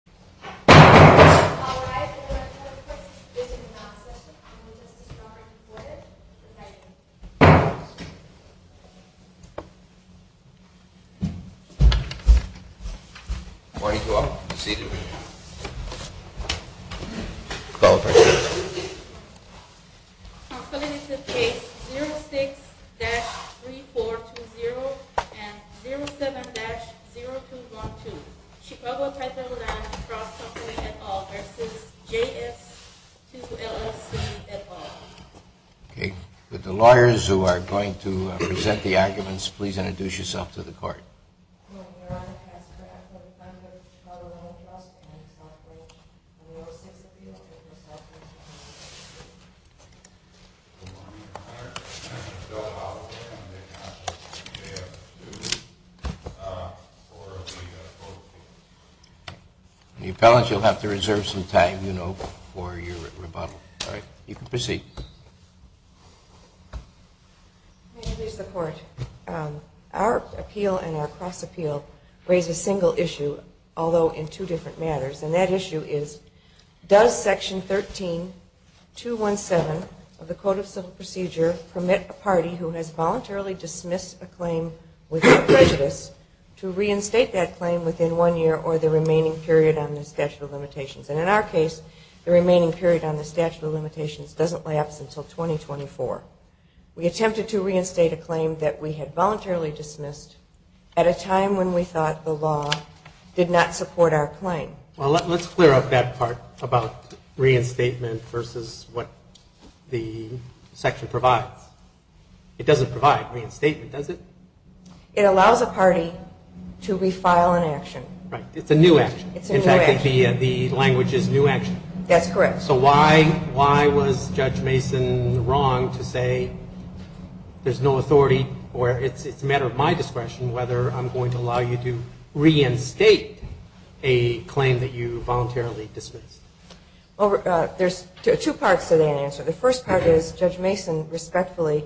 The following is the case 06-3420 and 07-0212, Chicago Title Land Trust Company v. J.S. Cross Company, et al. v. J.S. 2 LLC, et al. May it please the Court, our appeal and our cross-appeal raise a single issue, although in two different matters, and that issue is, does Section 13-217 of the Code of Civil Procedure permit a party who has voluntarily dismissed a claim without prejudice to reinstate that claim within one year or the remaining period on that claim? Well, let's clear up that part about reinstatement versus what the section provides. It doesn't provide reinstatement, does it? It allows a party to refile an action. Right. It's a new action. It's a new action. In fact, the language is new action. That's correct. So why was Judge Mason wrong to say there's no authority or it's a matter of my discretion whether I'm going to allow you to reinstate a claim that you voluntarily dismissed? There's two parts to that answer. The first part is Judge Mason, respectfully,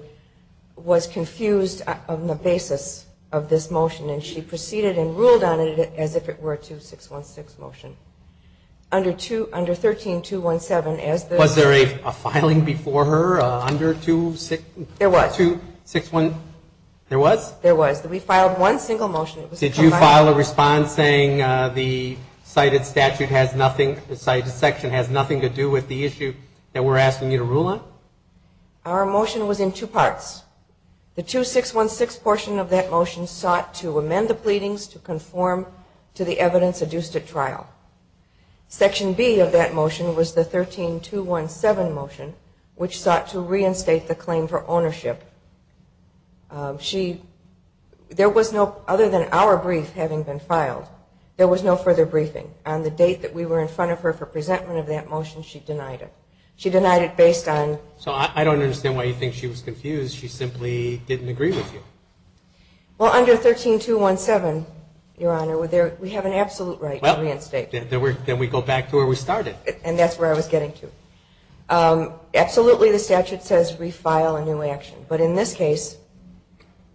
was confused on the basis of this motion, and she proceeded and ruled on it as if it were a 2-616 motion. Under 13-217, as the Was there a filing before her under 2-616? There was. There was? There was. We filed one single motion. Did you file a response saying the cited statute has nothing, the cited section has nothing to do with the issue that we're asking you to rule on? Our motion was in two parts. The 2-616 portion of that motion sought to amend the pleadings to conform to the evidence adduced at trial. Section B of that motion was the There was no further briefing. On the date that we were in front of her for presentment of that motion, she denied it. She denied it based on So I don't understand why you think she was confused. She simply didn't agree with you. Well, under 13-217, Your Honor, we have an absolute right to reinstate. Then we go back to where we started. And that's where I was getting to. Absolutely, the statute says refile a new action. But in this case,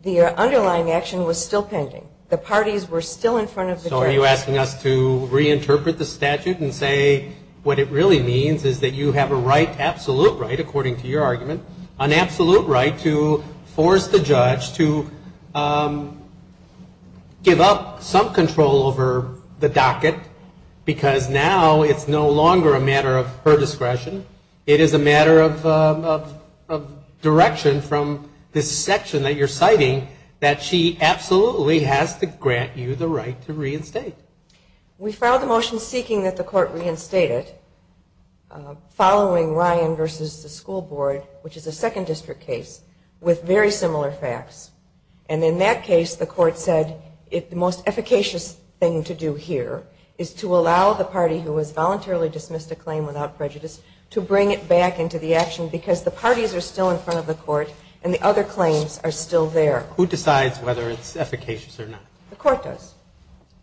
the underlying action was still pending. The parties were still in front of the judge. So are you asking us to reinterpret the statute and say what it really means is that you have a right, absolute right, according to your argument, an absolute right to force the judge to give up some control over the docket because now it's no longer a matter of her discretion. It is a matter of direction from this section that you're citing that she absolutely has to grant you the right to reinstate. We filed the motion seeking that the court reinstate it following Ryan versus the school board, which is a second district case, with very similar facts. And in that case, the court said the most efficacious thing to do here is to allow the party who has voluntarily dismissed a claim without prejudice to bring it back into the action because the parties are still in front of the court and the other claims are still there. Who decides whether it's efficacious or not? The court does.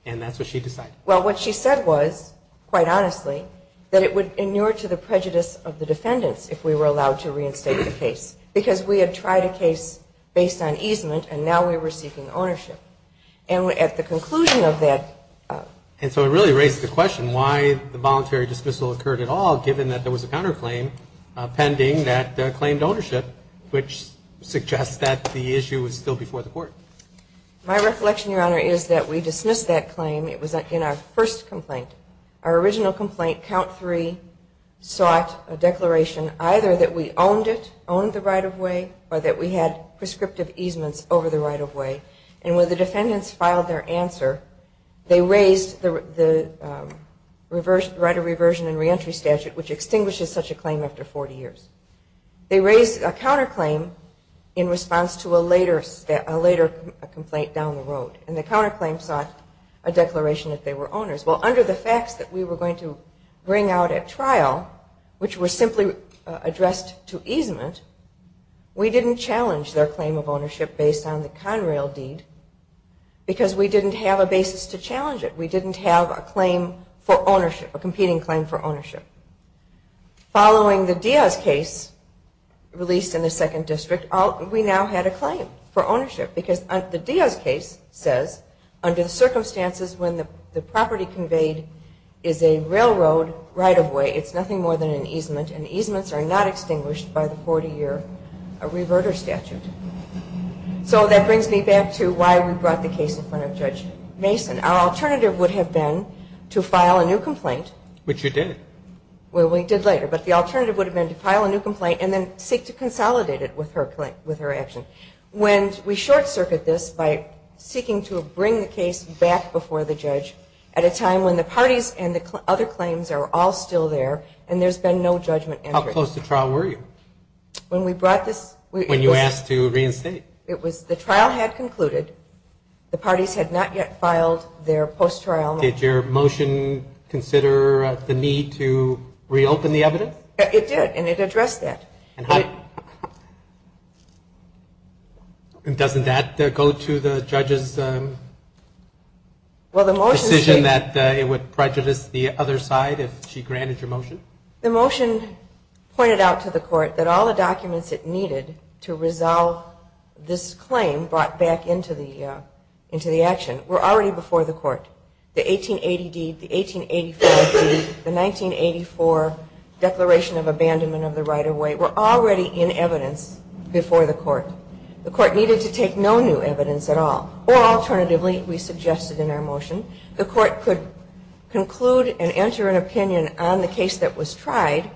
And that's what she decided. Well, what she said was, quite honestly, that it would inure to the prejudice of the defendants if we were allowed to reinstate the case because we had tried a case based on easement and now we were seeking ownership. And at the conclusion of that... And so it really raised the question why the voluntary dismissal occurred at all, given that there was a counterclaim pending that claimed ownership, which suggests that the issue was still before the court. My reflection, Your Honor, is that we dismissed that claim. It was in our first complaint. Our original complaint, count three, sought a declaration either that we owned it, owned the right-of-way, or that we had prescriptive easements over the right-of-way. And when the defendants filed their answer, they raised the right of reversion and reentry statute, which extinguishes such a claim after 40 years. They raised a counterclaim in response to a later complaint down the road. And the counterclaim sought a declaration that they were owners. Well, under the facts that we were going to bring out at trial, which were simply addressed to easement, we didn't challenge their claim of ownership based on the Conrail deed because we didn't have a basis to challenge it. We didn't have a claim for ownership, a competing claim for released in the second district. We now had a claim for ownership because the Diaz case says under the circumstances when the property conveyed is a railroad right-of-way, it's nothing more than an easement, and easements are not extinguished by the 40-year reverter statute. So that brings me back to why we brought the case in front of Judge Mason. Our alternative would have been to file a new complaint. Which you did. Well, we did later. But the alternative would have been to file a new complaint and then seek to consolidate it with her action. When we short-circuit this by seeking to bring the case back before the judge at a time when the parties and the other claims are all still there and there's been no judgment. How close to trial were you? When we brought this? When you asked to reinstate. The trial had concluded. The parties had not yet filed their post-trial motion. Did your motion consider the need to reopen the evidence? It did, and it addressed that. And doesn't that go to the judge's decision that it would prejudice the other side if she granted your motion? The motion pointed out to the court that all the documents it needed to resolve this claim brought back into the action were already before the court. The 1880 deed, the 1885 deed, the 1984 declaration of abandonment of the right of way were already in evidence before the court. The court needed to take no new evidence at all. Or alternatively, we suggested in our motion, the court could conclude and enter an opinion on the case that was tried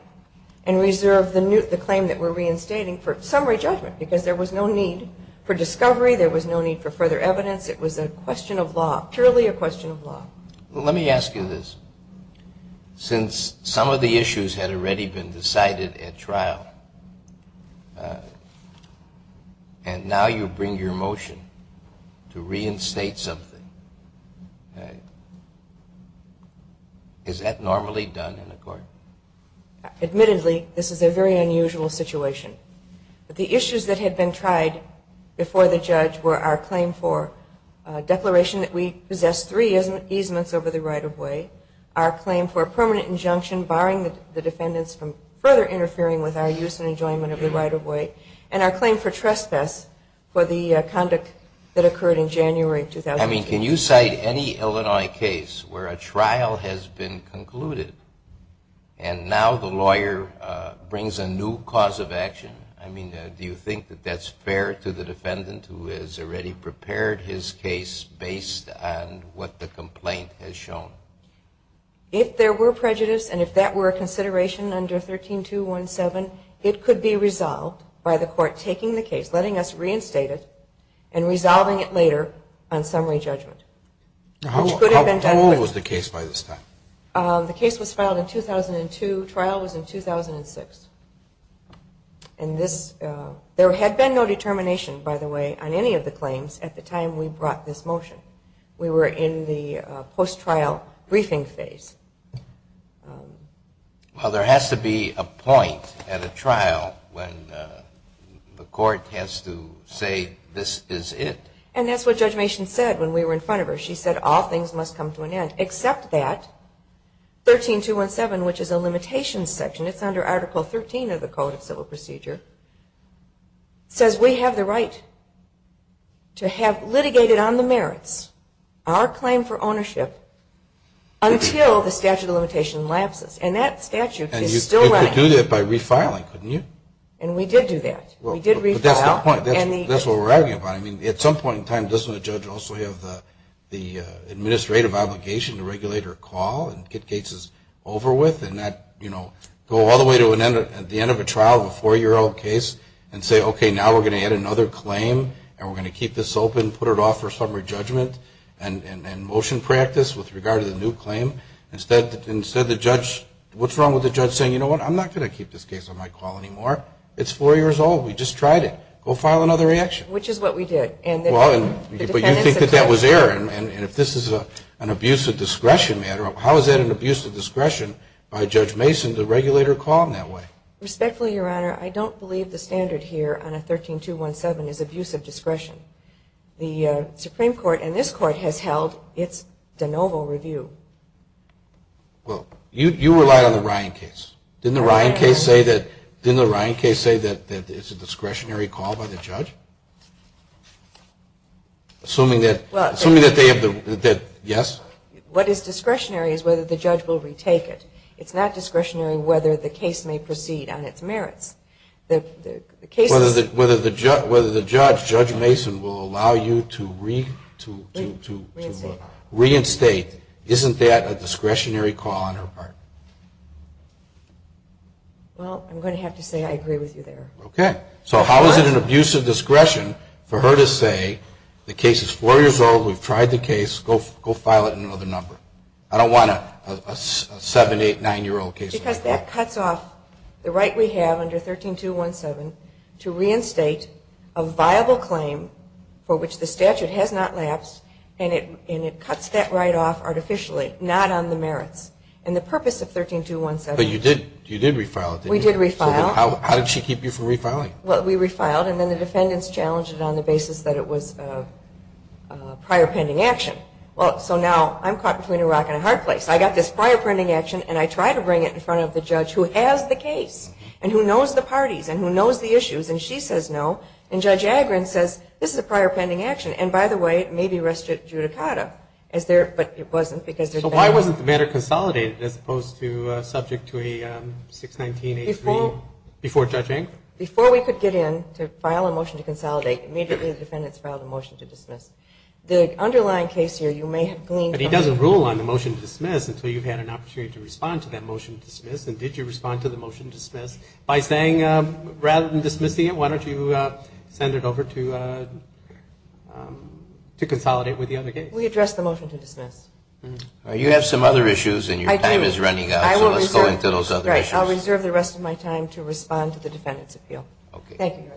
and reserve the claim that we're reinstating for summary judgment. Because there was no need for discovery, there was no need for further evidence. It was a question of law, purely a question of law. Let me ask you this. Since some of the issues had already been decided at trial, and now you bring your motion to reinstate something, is that normally done in a court? Admittedly, this is a very unusual situation. But the issues that had been tried before the judge were our claim for a declaration that we possessed three easements over the right of way, our claim for a permanent injunction barring the defendants from further interfering with our use and enjoyment of the right of way, and our claim for trespass for the conduct that occurred in January of 2008. I mean, can you cite any Illinois case where a trial has been concluded, and now the lawyer brings a new cause of action? I mean, do you think that that's fair to the defendant who has already prepared his case based on what the complaint has shown? If there were prejudices and if that were a consideration under 13217, it could be resolved by the court taking the case, letting us How old was the case by this time? The case was filed in 2002. Trial was in 2006. And this, there had been no determination, by the way, on any of the claims at the time we brought this motion. We were in the post-trial briefing phase. Well, there has to be a point at a trial when the court has to say this is it. And that's what Judge Mason said when we were in front of her. She said all things must come to an end, except that 13217, which is a limitations section, it's under Article 13 of the Code of Civil Procedure, says we have the right to have litigated on the merits, our claim for ownership, until the statute of limitation lapses. And that statute is still running. And you could do that by refiling, couldn't you? And we did do that. We did refile. But that's the point. That's what we're arguing about. I mean, at some point in time, doesn't a judge also have the administrative obligation to regulate her call and get cases over with and not, you know, go all the way to the end of a trial of a four-year-old case and say, okay, now we're going to add another claim and we're going to keep this open, put it off for summary judgment and motion practice with regard to the new claim? Instead the judge, what's wrong with the judge saying, you know what, I'm not going to keep this case on my call anymore. It's four years old. We just tried it. Go file another reaction. Which is what we did. Well, but you think that that was error. And if this is an abuse of discretion matter, how is that an abuse of discretion by Judge Mason to regulate her call in that way? Respectfully, Your Honor, I don't believe the standard here on a 13-217 is abuse of discretion. The Supreme Court and this Court has held it's de novo review. Well, you relied on the Ryan case. Didn't the Ryan case say that it's a discretionary call by the judge? Assuming that they have the, yes? What is discretionary is whether the judge will retake it. It's not discretionary whether the case may proceed on its merits. Whether the judge, Judge Mason, will allow you to reinstate. Isn't that a discretionary call on her part? Well, I'm going to have to say I agree with you there. Okay. So how is it an abuse of discretion for her to say the case is four years old, we've tried the case, go file it in another number? I don't want a seven, eight, nine-year-old case. Because that cuts off the right we have under 13-217 to reinstate a viable claim for which the statute has not lapsed and it cuts that right off artificially, not on the merits. And the purpose of 13-217 But you did, you did refile it, didn't you? We did refile. How did she keep you from refiling? Well, we refiled and then the defendants challenged it on the basis that it was prior pending action. Well, so now I'm caught between a rock and a hard place. I got this prior pending action and I try to bring it in front of the judge who has the case and who knows the parties and who knows the issues and she says no. And Judge Agron says this is a prior pending action and by the way, it may be restituted judicata. But it wasn't because the defendants So why wasn't the matter consolidated as opposed to subject to a 619-83 before Judge Agron? Before we could get in to file a motion to consolidate, immediately the defendants filed a motion to dismiss. The underlying case here you may have gleaned from He doesn't rule on the motion to dismiss until you've had an opportunity to respond to that motion to dismiss. And did you respond to the motion to dismiss by saying rather than dismissing it, why don't you send it over to consolidate with the other case? We addressed the motion to dismiss. You have some other issues and your time is running out so let's go into those other issues. I'll reserve the rest of my time to respond to the defendant's appeal. Thank you.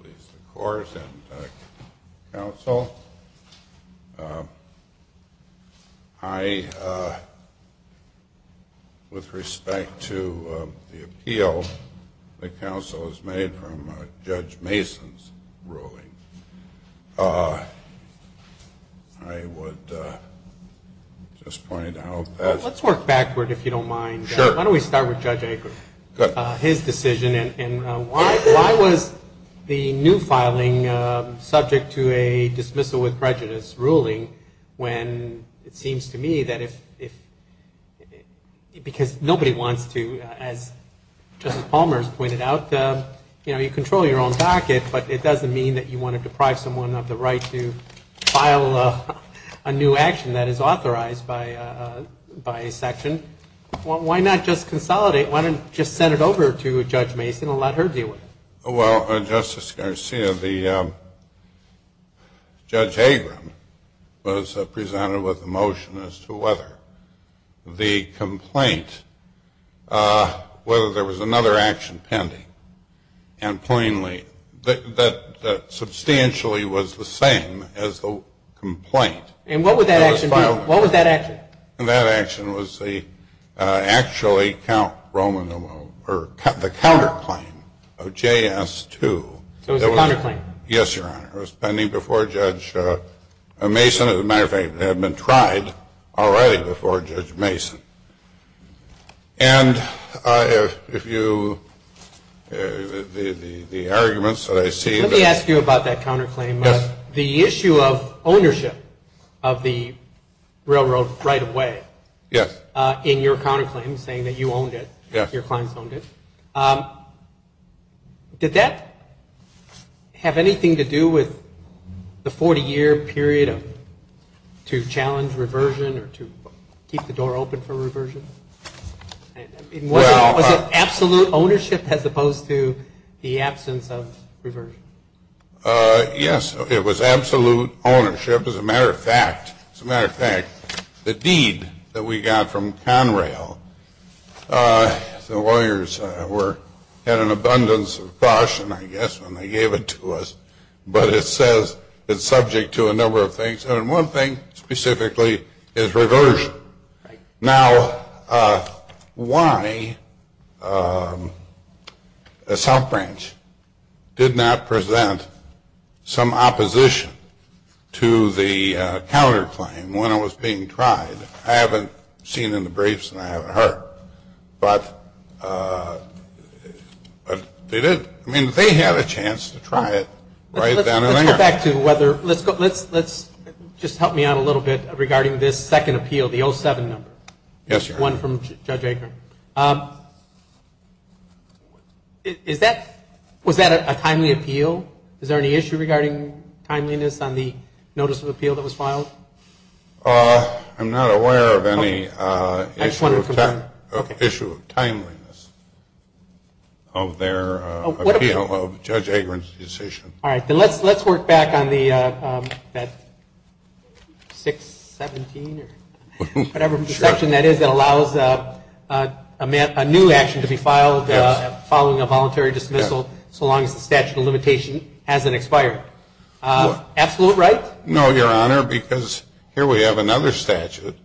Please, of course, and counsel. I, with respect to the appeal that counsel has made from Judge Mason's ruling, I would just point out that Let's work backward if you don't mind. Sure. Why don't we start with Judge Agron? Sure. His decision and why was the new filing subject to a dismissal with prejudice ruling when it seems to me that if because nobody wants to, as Justice Palmer has pointed out, you know, you control your own docket but it doesn't mean that you want to deprive someone of the right to file a new action that is authorized by a section. Why not just consolidate? Why not just send it over to Judge Mason and let her deal with it? Well, Justice Garcia, Judge Agron was presented with a motion as to whether the complaint, whether there was another action pending and plainly that substantially was the same as the complaint. And what would that action be? What was that action? That action was actually the counterclaim of JS2. So it was a counterclaim? Yes, Your Honor. It was pending before Judge Mason. As a matter of fact, it had been tried already before Judge Mason. And if you, the arguments that I see Let me ask you about that counterclaim. Yes. The issue of ownership of the railroad right away. Yes. In your counterclaim saying that you owned it. Yes. Your clients owned it. Did that have anything to do with the 40-year period to challenge reversion or to keep the door open for reversion? Was it absolute ownership as opposed to the absence of reversion? Yes. It was absolute ownership. As a matter of fact, the deed that we got from Conrail, the lawyers had an abundance of caution, I guess, when they gave it to us. But it says it's subject to a number of things. And one thing specifically is reversion. Now, why the South Branch did not present some opposition to the counterclaim when it was being tried, I haven't seen in the briefs and I haven't heard. But they did. I mean, they had a chance to try it right then and there. Let's just help me out a little bit regarding this second appeal, the 07 number. Yes, Your Honor. One from Judge Agron. Was that a timely appeal? Is there any issue regarding timeliness on the notice of appeal that was filed? I'm not aware of any issue of timeliness of their appeal of Judge Agron's decision. All right. Then let's work back on the 617 or whatever section that is that allows a new action to be filed following a voluntary dismissal, so long as the statute of limitation hasn't expired. Absolute right? No, Your Honor, because here we have another statute.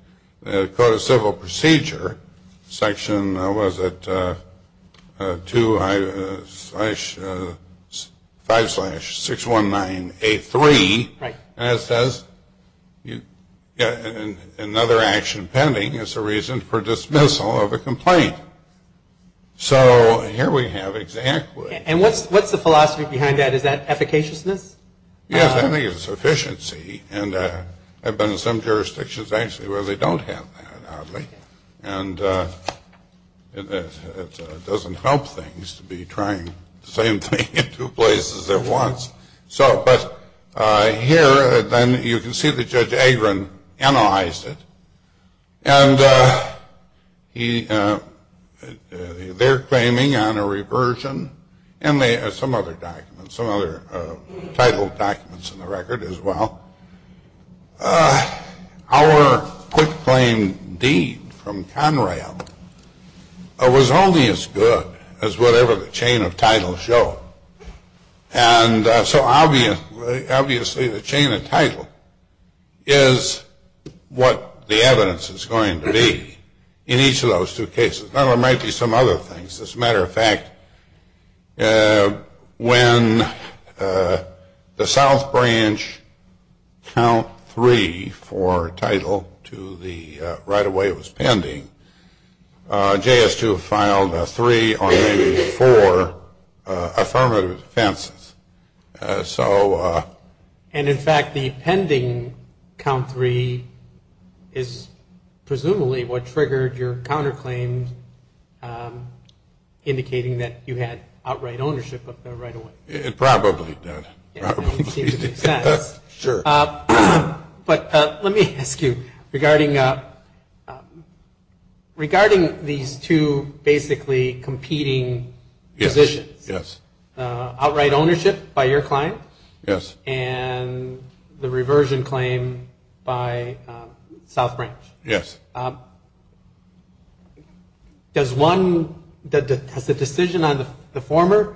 The Code of Civil Procedure section was at 2-5-619-A3. Right. And it says another action pending is the reason for dismissal of a complaint. So here we have exactly. And what's the philosophy behind that? Is that efficaciousness? Yes, I think it's efficiency. And I've been in some jurisdictions, actually, where they don't have that, oddly. And it doesn't help things to be trying the same thing in two places at once. But here, then, you can see that Judge Agron analyzed it. And they're claiming on a reversion and some other documents, some other title documents in the record as well. Our quick claim deed from Conrail was only as good as whatever the chain of titles showed. And so obviously the chain of title is what the evidence is going to be in each of those two cases. Now, there might be some other things. As a matter of fact, when the South Branch count three for title to the right-of-way was pending, JS2 filed three or maybe four affirmative defenses. And, in fact, the pending count three is presumably what triggered your counterclaim, indicating that you had outright ownership of the right-of-way. It probably did. It seems to make sense. Sure. But let me ask you, regarding these two basically competing positions, outright ownership by your client. Yes. And the reversion claim by South Branch. Yes. Does one, does the decision on the former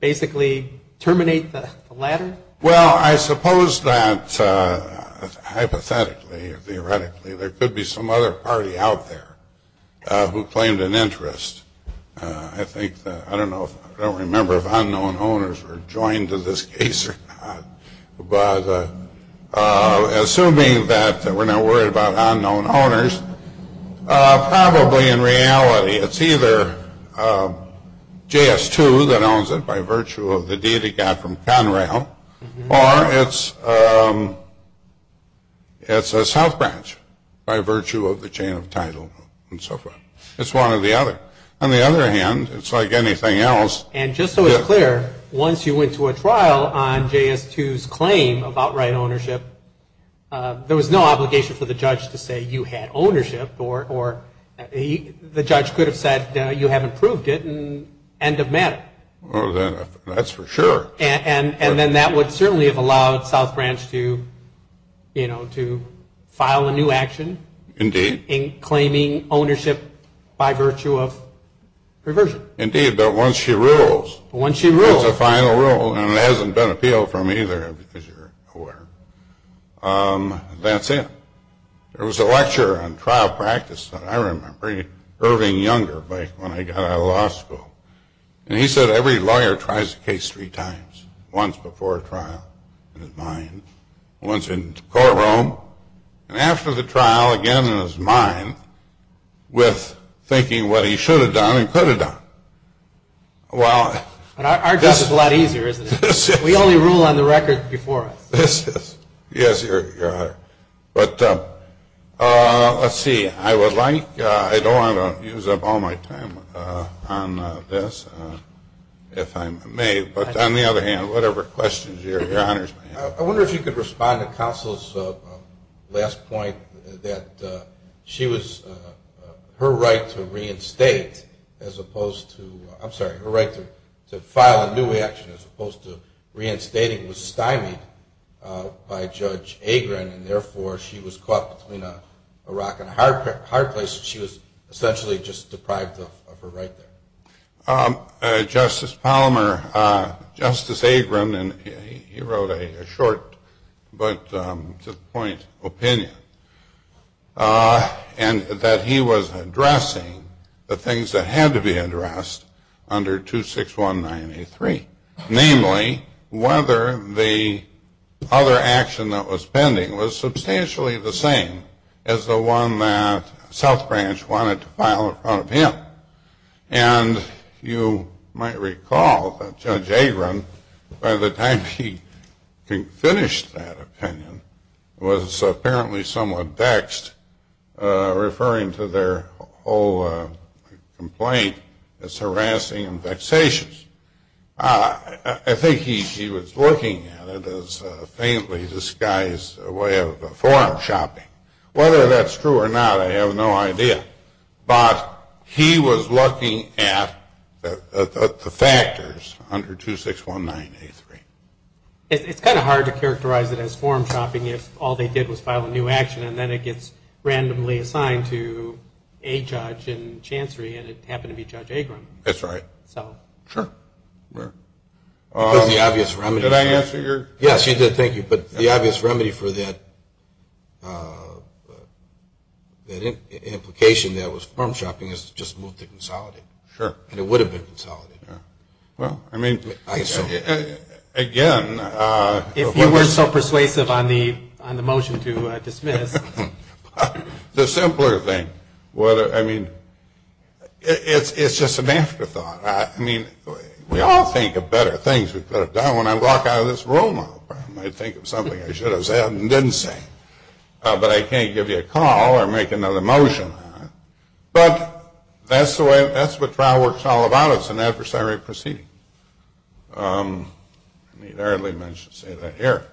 basically terminate the latter? Well, I suppose not, hypothetically, theoretically. There could be some other party out there who claimed an interest. I think, I don't know, I don't remember if unknown owners were joined to this case or not. But assuming that we're not worried about unknown owners, probably in reality it's either JS2 that owns it, by virtue of the deed it got from Conrail, or it's a South Branch, by virtue of the chain of title and so forth. It's one or the other. On the other hand, it's like anything else. And just so it's clear, once you went to a trial on JS2's claim of outright ownership, there was no obligation for the judge to say you had ownership, or the judge could have said you haven't proved it, in end of matter. Well, that's for sure. And then that would certainly have allowed South Branch to, you know, to file a new action. Indeed. In claiming ownership by virtue of reversion. Indeed, but once she rules. Once she rules. It's a final rule, and it hasn't been appealed from either, because you're aware. That's it. There was a lecture on trial practice that I remember. Irving Younger, when I got out of law school. And he said every lawyer tries a case three times. Once before a trial, in his mind. Once in the courtroom. And after the trial, again in his mind, with thinking what he should have done and could have done. Well. Our case is a lot easier, isn't it? We only rule on the record before us. Yes, Your Honor. But let's see. I would like, I don't want to use up all my time on this, if I may. But on the other hand, whatever questions, Your Honor. I wonder if you could respond to counsel's last point that she was, her right to reinstate, as opposed to, I'm sorry, her right to file a new action as opposed to reinstating was stymied by Judge Agron, and therefore she was caught between a rock and a hard place. She was essentially just deprived of her right there. Justice Palmer, Justice Agron, and he wrote a short, but to the point, opinion. And that he was addressing the things that had to be addressed under 261983. Namely, whether the other action that was pending was substantially the same as the one that South Branch wanted to file in front of him. And you might recall that Judge Agron, by the time he finished that opinion, was apparently somewhat vexed referring to their whole complaint as harassing and vexations. I think he was looking at it as a faintly disguised way of forum shopping. Whether that's true or not, I have no idea. But he was looking at the factors under 261983. It's kind of hard to characterize it as forum shopping if all they did was file a new action and then it gets randomly assigned to a judge in Chancery and it happened to be Judge Agron. That's right. So. Sure. Did I answer your? Yes, you did. Thank you. But the obvious remedy for that implication that it was forum shopping is to just move to consolidate. Sure. And it would have been consolidated. Well, I mean. I assume. Again. If you were so persuasive on the motion to dismiss. The simpler thing. I mean, it's just an afterthought. I mean, we all think of better things we could have done when I walk out of this room. I might think of something I should have said and didn't say. But I can't give you a call or make another motion on it. But that's the way. That's what trial work is all about. It's an adversary proceeding. I mean, I hardly meant to say that here.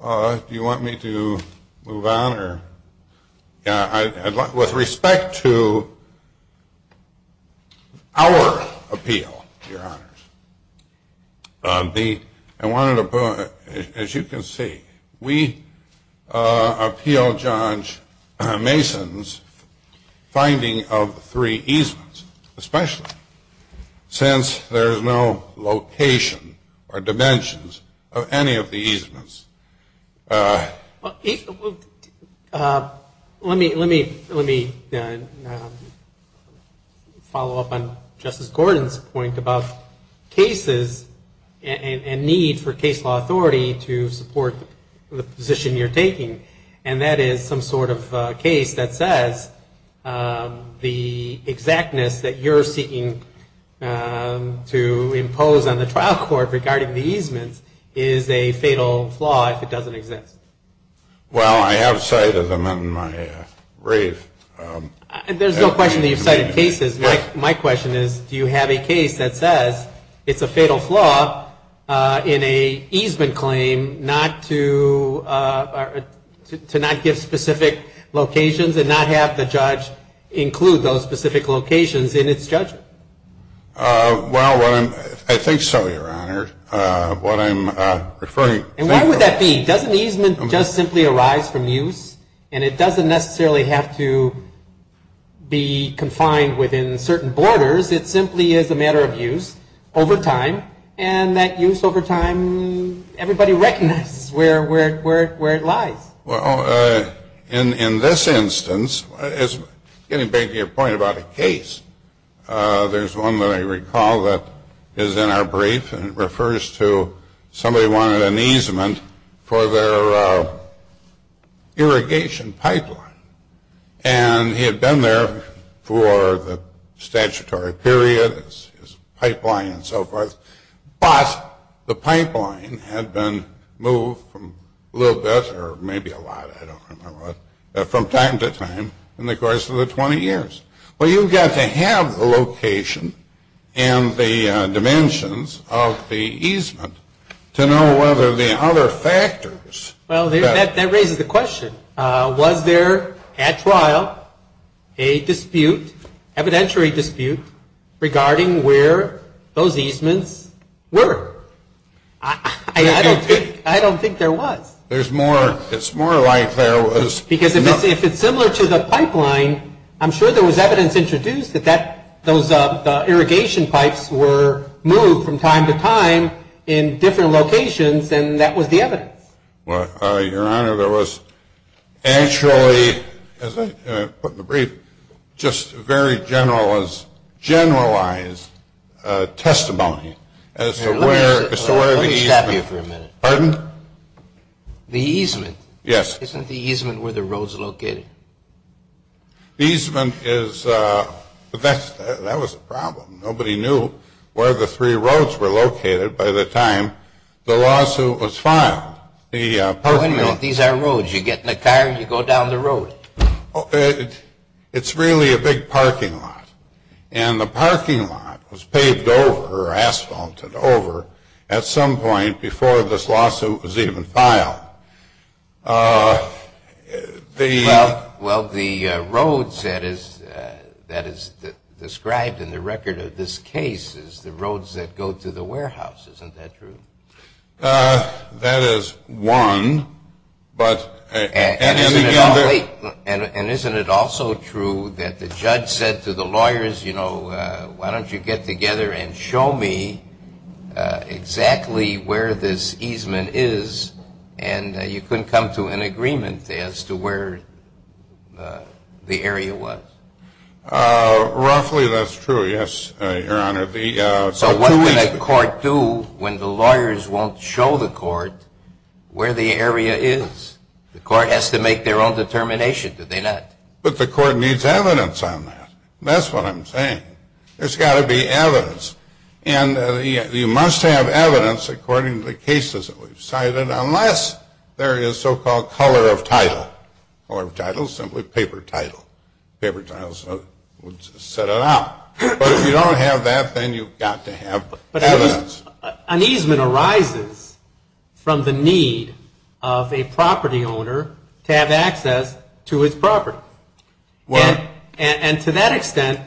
Do you want me to move on? With respect to our appeal, Your Honors. I wanted to put, as you can see, we appeal Judge Mason's finding of three easements. Especially since there is no location or dimensions of any of the easements. Well, let me follow up on Justice Gordon's point about cases and need for case law authority to support the position you're taking. And that is some sort of case that says the exactness that you're seeking to impose on the trial court regarding the easements is a fatal flaw if it doesn't exist. Well, I have cited them in my brief. There's no question that you've cited cases. My question is, do you have a case that says it's a fatal flaw in an easement claim to not give specific locations and not have the judge include those specific locations in its judgment? Well, I think so, Your Honor. What I'm referring to. And why would that be? Doesn't easement just simply arise from use? And it doesn't necessarily have to be confined within certain borders. It simply is a matter of use over time. And that use over time, everybody recognizes where it lies. Well, in this instance, getting back to your point about a case, there's one that I recall that is in our brief and it refers to somebody wanted an easement for their irrigation pipeline. And he had been there for the statutory period, his pipeline and so forth. But the pipeline had been moved from a little bit or maybe a lot, I don't remember what, from time to time in the course of the 20 years. Well, you've got to have the location and the dimensions of the easement to know whether the other factors. Well, that raises the question. Was there at trial a dispute, evidentiary dispute, regarding where those easements were? I don't think there was. It's more like there was. Because if it's similar to the pipeline, I'm sure there was evidence introduced that those irrigation pipes were moved from time to time in different locations and that was the evidence. Well, Your Honor, there was actually, as I put in the brief, just very generalized testimony as to where the easement. Let me stop you for a minute. Pardon? The easement. Yes. Isn't the easement where the roads are located? The easement is, that was the problem. Nobody knew where the three roads were located by the time the lawsuit was filed. The parking lot. Wait a minute. These are roads. You get in a car and you go down the road. It's really a big parking lot. And the parking lot was paved over or asphalted over at some point before this lawsuit was even filed. Well, the roads that is described in the record of this case is the roads that go to the warehouse. Isn't that true? That is one. And isn't it also true that the judge said to the lawyers, you know, why don't you get together and show me exactly where this easement is and you can come to an agreement as to where the area was? Roughly that's true, yes, Your Honor. So what can a court do when the lawyers won't show the court where the area is? The court has to make their own determination, do they not? But the court needs evidence on that. That's what I'm saying. There's got to be evidence. And you must have evidence according to the cases that we've cited unless there is so-called color of title. Color of title is simply paper title. Paper title would set it out. But if you don't have that, then you've got to have evidence. An easement arises from the need of a property owner to have access to his property. Well. And to that extent,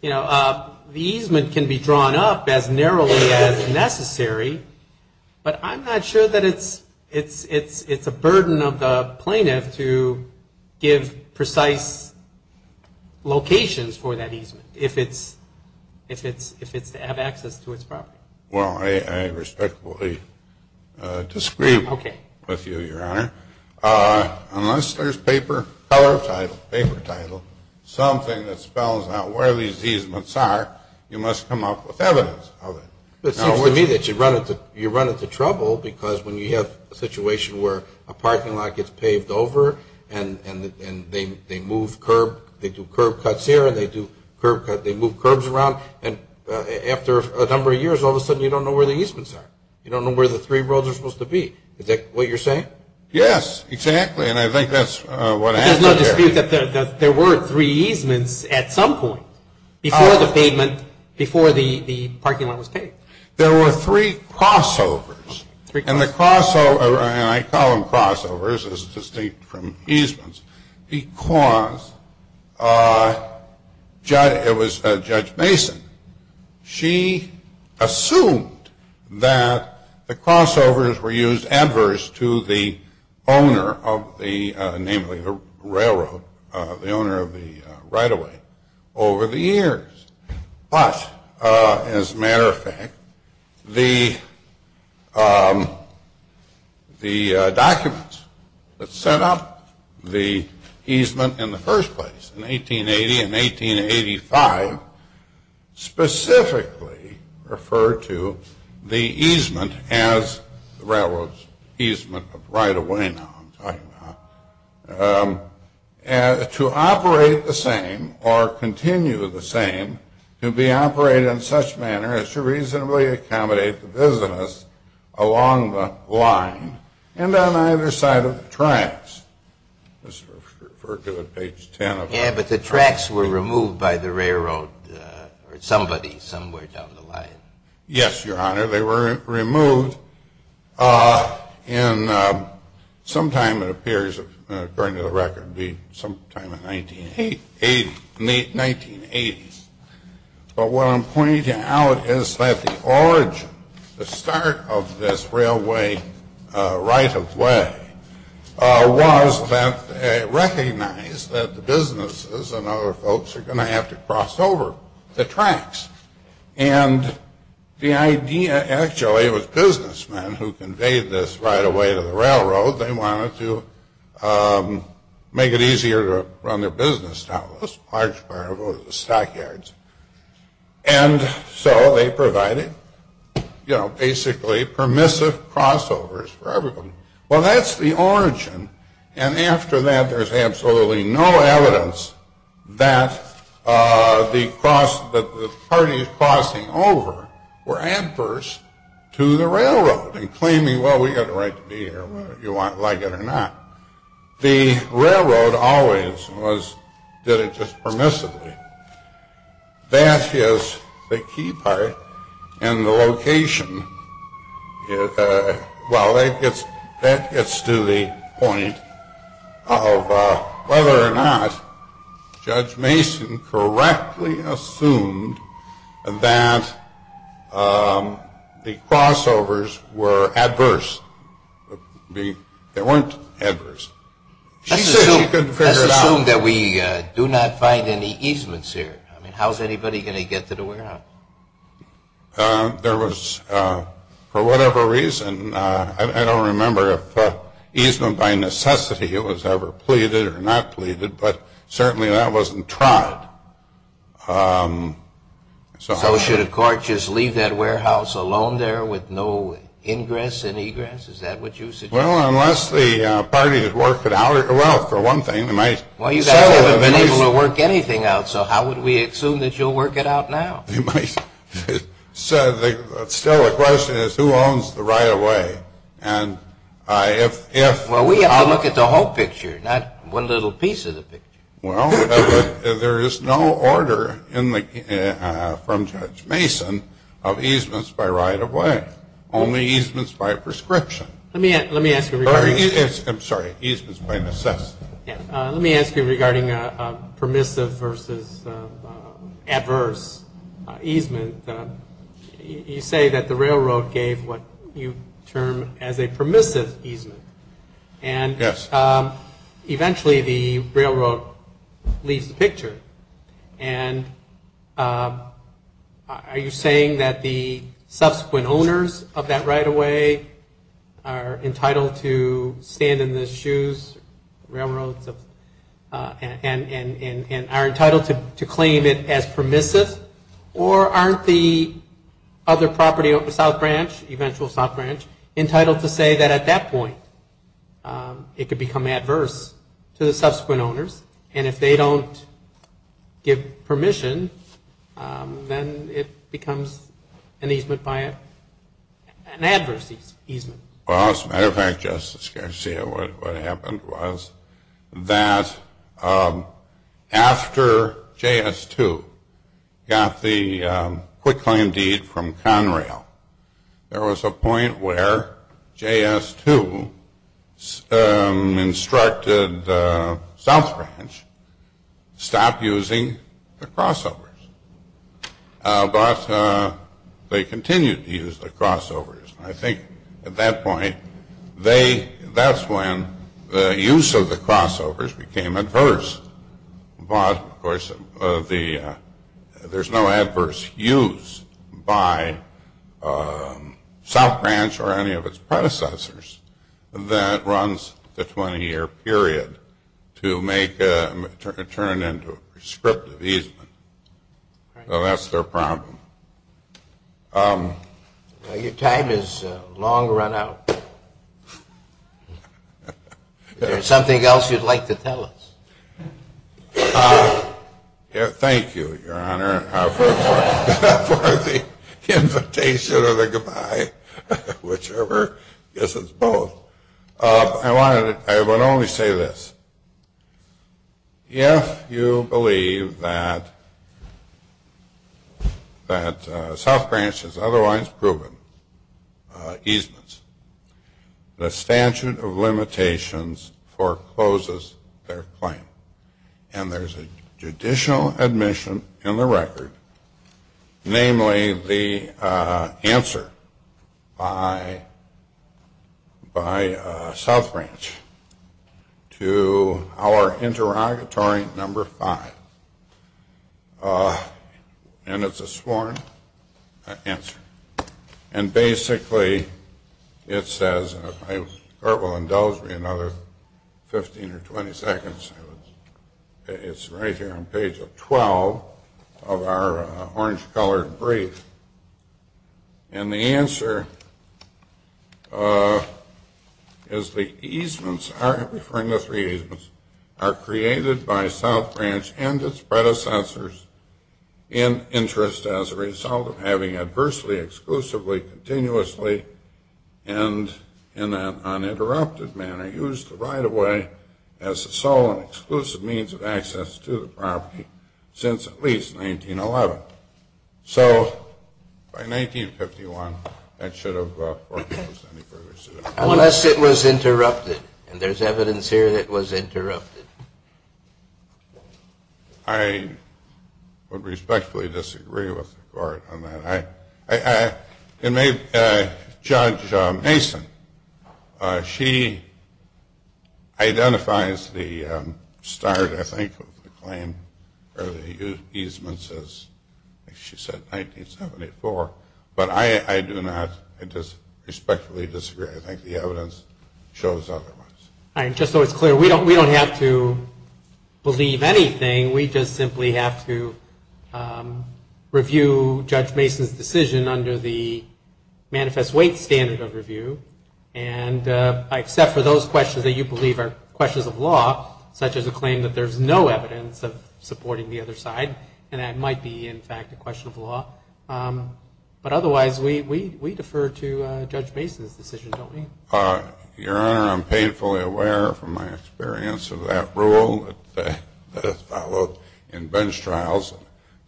you know, the easement can be drawn up as narrowly as necessary, but I'm not sure that it's a burden of the plaintiff to give precise locations for that easement if it's to have access to its property. Well, I respectfully disagree with you, Your Honor. Unless there's paper, color of title, paper title, something that spells out where these easements are, you must come up with evidence of it. It seems to me that you run into trouble because when you have a situation where a parking lot gets paved over and they move curb, they do curb cuts here and they do curb cuts, they move curbs around, and after a number of years, all of a sudden you don't know where the easements are. You don't know where the three roads are supposed to be. Is that what you're saying? Yes, exactly, and I think that's what happened there. But there's no dispute that there were three easements at some point before the pavement, before the parking lot was paved. There were three crossovers. And the crossover, and I call them crossovers, it's distinct from easements, because it was Judge Mason. She assumed that the crossovers were used adverse to the owner of the, namely the railroad, the owner of the right-of-way, over the years. But, as a matter of fact, the documents that set up the easement in the first place, in 1880 and 1885, specifically referred to the easement as the railroad's easement of right-of-way. You know what I'm talking about. To operate the same, or continue the same, to be operated in such manner as to reasonably accommodate the business along the line and on either side of the tracks. Let's refer to it page 10. Yeah, but the tracks were removed by the railroad, or somebody somewhere down the line. Yes, Your Honor, they were removed sometime, it appears, according to the record, sometime in the 1980s. But what I'm pointing out is that the origin, the start of this railway right-of-way, was that they recognized that the businesses and other folks are going to have to cross over the tracks. And the idea, actually, was businessmen who conveyed this right-of-way to the railroad. They wanted to make it easier to run their business down this large part of the stockyards. And so they provided, you know, basically permissive crossovers for everyone. Well, that's the origin. And after that, there's absolutely no evidence that the parties crossing over were adverse to the railroad and claiming, well, we've got a right to be here whether you like it or not. The railroad always did it just permissively. That is the key part. And the location, well, that gets to the point of whether or not Judge Mason correctly assumed that the crossovers were adverse. They weren't adverse. She said she couldn't figure it out. Let's assume that we do not find any easements here. I mean, how's anybody going to get to the warehouse? There was, for whatever reason, I don't remember if easement by necessity was ever pleaded or not pleaded, but certainly that wasn't tried. So should a court just leave that warehouse alone there with no ingress and egress? Is that what you suggest? Well, unless the party has worked it out. Well, for one thing, they might sell it. Well, you guys haven't been able to work anything out, so how would we assume that you'll work it out now? You might. Still, the question is who owns the right-of-way. Well, we have to look at the whole picture, not one little piece of the picture. Well, there is no order from Judge Mason of easements by right-of-way, only easements by prescription. I'm sorry, easements by necessity. Let me ask you regarding permissive versus adverse easement. You say that the railroad gave what you term as a permissive easement. Yes. And eventually the railroad leaves the picture. And are you saying that the subsequent owners of that right-of-way are entitled to stand in the shoes, railroads, and are entitled to claim it as permissive, or aren't the other property of the South Branch, eventual South Branch, entitled to say that at that point it could become adverse to the subsequent owners, and if they don't give permission, then it becomes an easement by an adverse easement? Well, as a matter of fact, Justice Garcia, what happened was that after JS2 got the quick claim deed from Conrail, there was a point where JS2 instructed South Branch stop using the crossovers. But they continued to use the crossovers. I think at that point, that's when the use of the crossovers became adverse. But, of course, there's no adverse use by South Branch or any of its predecessors that runs the 20-year period to turn it into a prescriptive easement. So that's their problem. Well, your time is long run out. Is there something else you'd like to tell us? Thank you, Your Honor, for the invitation or the goodbye, whichever. I guess it's both. I would only say this. If you believe that South Branch has otherwise proven easements, the statute of limitations forecloses their claim, and there's a judicial admission in the record, namely the answer by South Branch to our interrogatory number five. And it's a sworn answer. And basically it says, and if my court will indulge me another 15 or 20 seconds, it's right here on page 12 of our orange-colored brief. And the answer is the easements, referring to three easements, are created by South Branch and its predecessors in interest as a result of having adversely, exclusively, continuously, and in an uninterrupted manner used the right-of-way as the sole and exclusive means of access to the property since at least 1911. So by 1951 that should have foreclosed any further. Unless it was interrupted. And there's evidence here that it was interrupted. I would respectfully disagree with the court on that. And maybe Judge Mason, she identifies the start, I think, of the claim or the easements as she said, 1974. But I do not respectfully disagree. I think the evidence shows otherwise. Just so it's clear, we don't have to believe anything. We just simply have to review Judge Mason's decision under the manifest weight standard of review. And I accept for those questions that you believe are questions of law, such as a claim that there's no evidence of supporting the other side. And that might be, in fact, a question of law. But otherwise, we defer to Judge Mason's decision, don't we? Your Honor, I'm painfully aware from my experience of that rule that has followed in bench trials.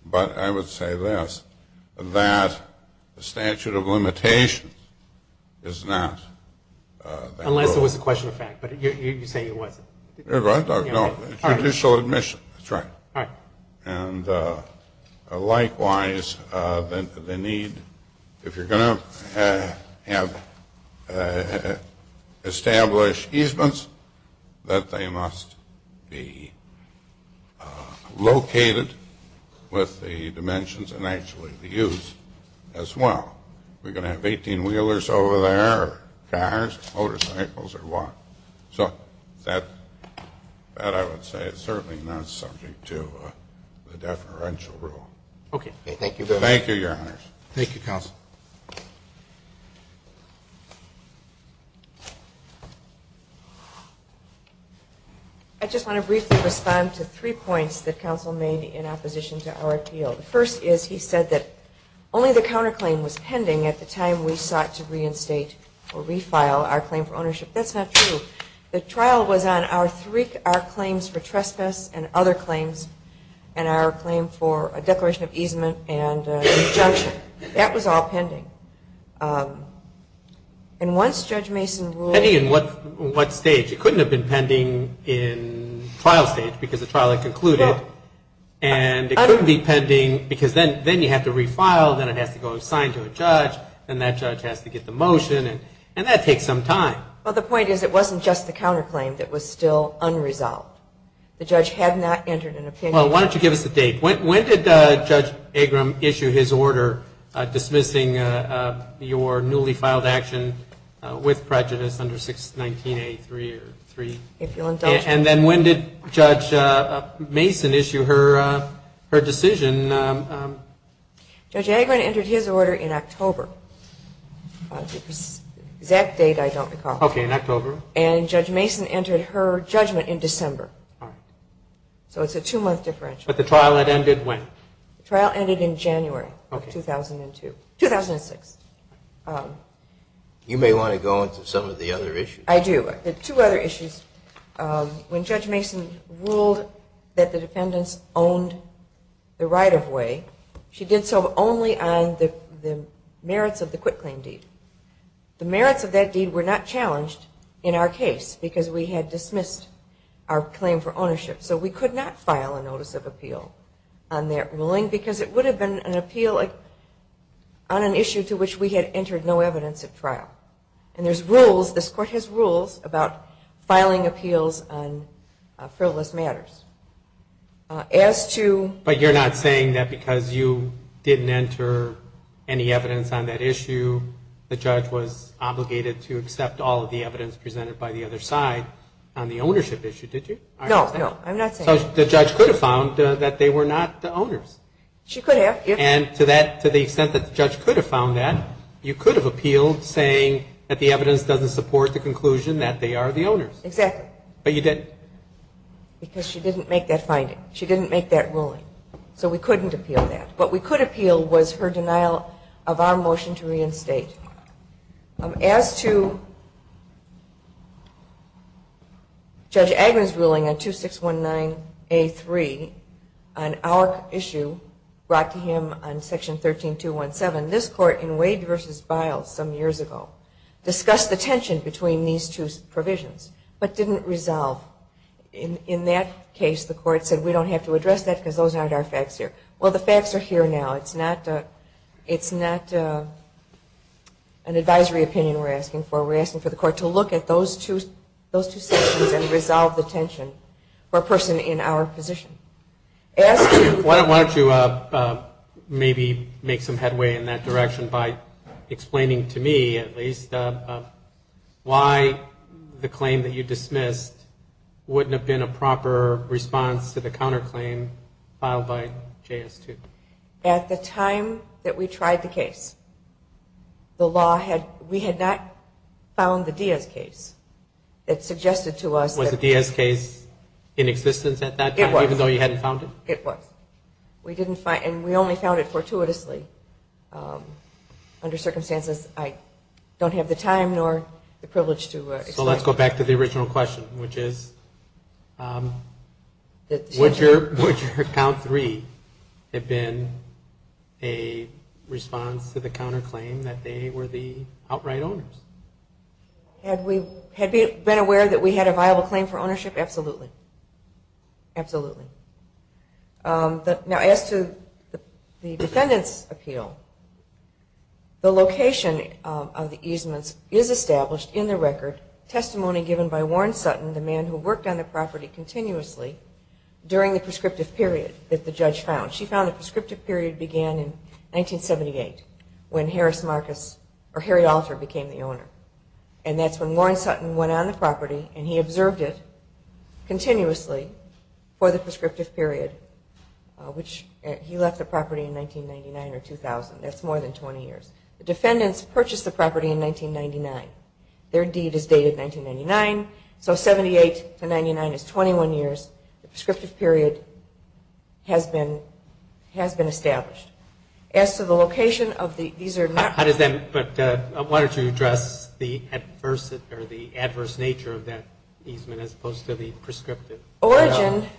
But I would say this, that the statute of limitations is not that rule. Unless it was a question of fact. But you say it wasn't. No, judicial admission, that's right. All right. And likewise, the need, if you're going to establish easements, that they must be located with the dimensions and actually the use as well. We're going to have 18-wheelers over there or cars, motorcycles or what. So that, I would say, is certainly not subject to the deferential rule. Okay. Thank you very much. Thank you, Your Honors. Thank you, Counsel. I just want to briefly respond to three points that Counsel made in opposition to our appeal. The first is he said that only the counterclaim was pending at the time we sought to reinstate or refile our claim for ownership. That's not true. The trial was on our claims for trespass and other claims and our claim for a declaration of easement and injunction. That was all pending. And once Judge Mason ruled – Pending in what stage? It couldn't have been pending in trial stage because the trial had concluded. And it couldn't be pending because then you have to refile, then it has to go sign to a judge, and that judge has to get the motion. And that takes some time. Well, the point is it wasn't just the counterclaim that was still unresolved. The judge had not entered an opinion. Well, why don't you give us the date? When did Judge Agram issue his order dismissing your newly filed action with prejudice under 619A3? If you'll indulge me. And then when did Judge Mason issue her decision? Judge Agram entered his order in October. The exact date I don't recall. Okay, in October. And Judge Mason entered her judgment in December. All right. So it's a two-month differential. But the trial had ended when? The trial ended in January of 2002 – 2006. You may want to go into some of the other issues. I do. Two other issues. When Judge Mason ruled that the defendants owned the right-of-way, she did so only on the merits of the quitclaim deed. The merits of that deed were not challenged in our case because we had dismissed our claim for ownership. So we could not file a notice of appeal on that ruling because it would have been an appeal on an issue to which we had entered no evidence at trial. And there's rules, this Court has rules about filing appeals on frivolous matters. As to – But you're not saying that because you didn't enter any evidence on that issue, the judge was obligated to accept all of the evidence presented by the other side on the ownership issue, did you? No, no, I'm not saying that. So the judge could have found that they were not the owners. She could have. And to the extent that the judge could have found that, you could have appealed saying that the evidence doesn't support the conclusion that they are the owners. Exactly. But you didn't. Because she didn't make that finding. She didn't make that ruling. So we couldn't appeal that. What we could appeal was her denial of our motion to reinstate. As to Judge Agnew's ruling on 2619A3 on our issue brought to him on Section 13217, this Court in Wade v. Biles some years ago discussed the tension between these two provisions but didn't resolve. In that case, the Court said we don't have to address that because those aren't our facts here. Well, the facts are here now. It's not an advisory opinion we're asking for. We're asking for the Court to look at those two sections and resolve the tension for a person in our position. Why don't you maybe make some headway in that direction by explaining to me, at least, why the claim that you dismissed wouldn't have been a proper response to the counterclaim filed by JS2? At the time that we tried the case, we had not found the Diaz case that suggested to us that... Was the Diaz case in existence at that time, even though you hadn't found it? It was. It was. And we only found it fortuitously. Under circumstances I don't have the time nor the privilege to explain. So let's go back to the original question, which is, would your Count 3 have been a response to the counterclaim that they were the outright owners? Had we been aware that we had a viable claim for ownership? Absolutely. Absolutely. Now, as to the defendant's appeal, the location of the easements is established in the record, testimony given by Warren Sutton, the man who worked on the property continuously, during the prescriptive period that the judge found. She found the prescriptive period began in 1978, when Harry Alter became the owner. And that's when Warren Sutton went on the property and he observed it continuously for the prescriptive period, which he left the property in 1999 or 2000. That's more than 20 years. The defendants purchased the property in 1999. Their deed is dated 1999. So 78 to 99 is 21 years. The prescriptive period has been established. As to the location of the... Why don't you address the adverse nature of that easement as opposed to the prescriptive? If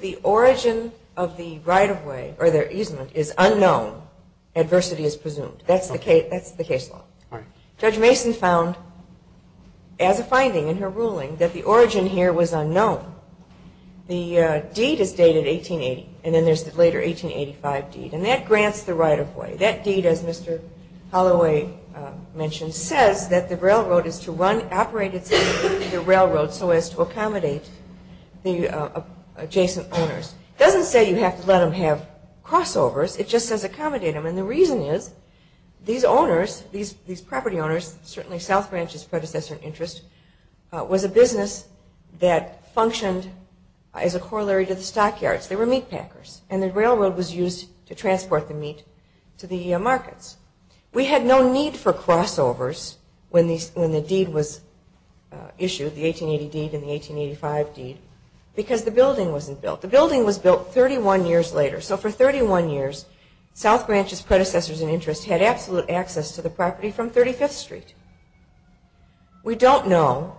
the origin of the right-of-way or their easement is unknown, adversity is presumed. That's the case law. Judge Mason found, as a finding in her ruling, that the origin here was unknown. The deed is dated 1880, and then there's the later 1885 deed. And that grants the right-of-way. That deed, as Mr. Holloway mentioned, says that the railroad is to run, operate itself, the railroad, so as to accommodate the adjacent owners. It doesn't say you have to let them have crossovers. It just says accommodate them. And the reason is these owners, these property owners, certainly South Branch's predecessor in interest, was a business that functioned as a corollary to the stockyards. They were meat packers. And the railroad was used to transport the meat to the markets. We had no need for crossovers when the deed was issued, the 1880 deed and the 1885 deed, because the building wasn't built. The building was built 31 years later. So for 31 years, South Branch's predecessors in interest had absolute access to the property from 35th Street. We don't know,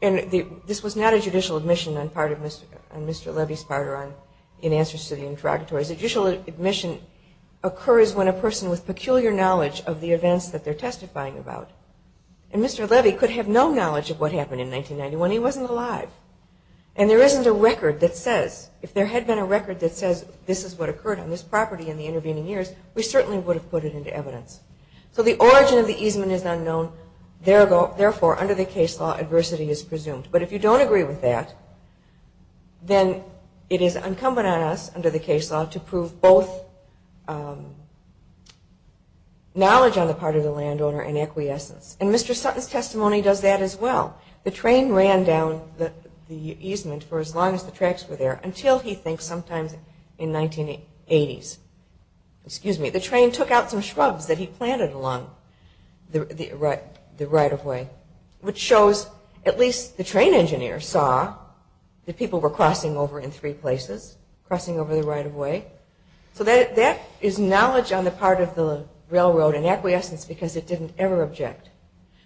and this was not a judicial admission on Mr. Levy's part in answers to the interrogatories. A judicial admission occurs when a person with peculiar knowledge of the events that they're testifying about. And Mr. Levy could have no knowledge of what happened in 1991. He wasn't alive. And there isn't a record that says, if there had been a record that says, this is what occurred on this property in the intervening years, we certainly would have put it into evidence. So the origin of the easement is unknown. Therefore, under the case law, adversity is presumed. But if you don't agree with that, then it is incumbent on us under the case law to prove both knowledge on the part of the landowner and acquiescence. And Mr. Sutton's testimony does that as well. The train ran down the easement for as long as the tracks were there until he thinks sometimes in 1980s. The train took out some shrubs that he planted along the right-of-way, which shows at least the train engineer saw that people were crossing over in three places, crossing over the right-of-way. So that is knowledge on the part of the railroad and acquiescence because it didn't ever object.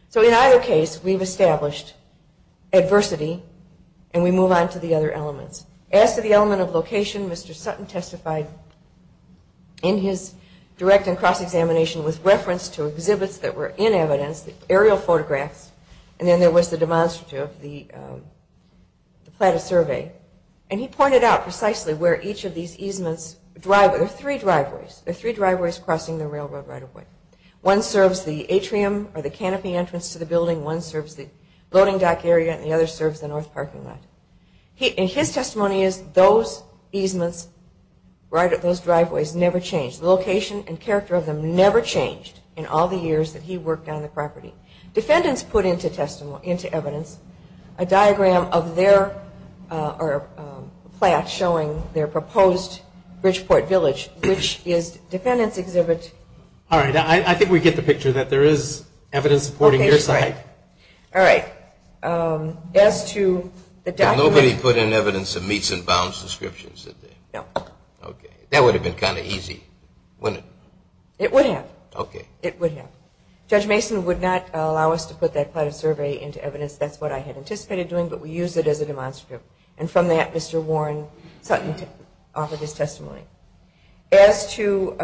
So in either case, we've established adversity, and we move on to the other elements. As to the element of location, Mr. Sutton testified in his direct and cross-examination with reference to exhibits that were in evidence, aerial photographs, and then there was the demonstrative, the platter survey. And he pointed out precisely where each of these easements, there are three driveways, there are three driveways crossing the railroad right-of-way. One serves the atrium or the canopy entrance to the building. One serves the loading dock area, and the other serves the north parking lot. And his testimony is those easements right at those driveways never changed. The location and character of them never changed in all the years that he worked on the property. Defendants put into evidence a diagram of their plat showing their proposed Bridgeport Village, which is defendants exhibit. All right. I think we get the picture that there is evidence supporting your side. Okay. All right. As to the document. Nobody put in evidence of meets and bounds descriptions, did they? No. Okay. That would have been kind of easy, wouldn't it? It would have. Okay. It would have. Judge Mason would not allow us to put that platter survey into evidence. That's what I had anticipated doing, but we used it as a demonstrative. And from that, Mr. Warren sought to offer his testimony. As to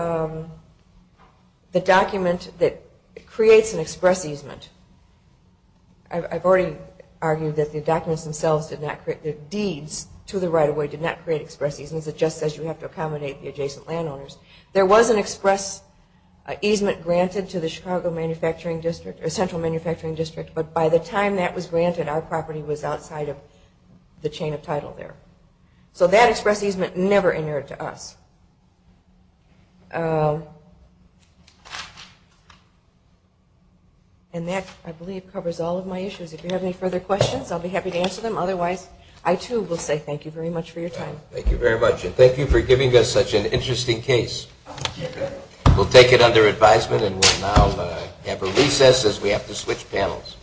the document that creates an express easement, I've already argued that the documents themselves did not create, the deeds to the right-of-way did not create express easements. It just says you have to accommodate the adjacent landowners. There was an express easement granted to the Chicago Central Manufacturing District, but by the time that was granted, our property was outside of the chain of title there. So that express easement never entered to us. And that, I believe, covers all of my issues. If you have any further questions, I'll be happy to answer them. Otherwise, I, too, will say thank you very much for your time. Thank you very much, and thank you for giving us such an interesting case. We'll take it under advisement, and we'll now have a recess as we have to switch panels.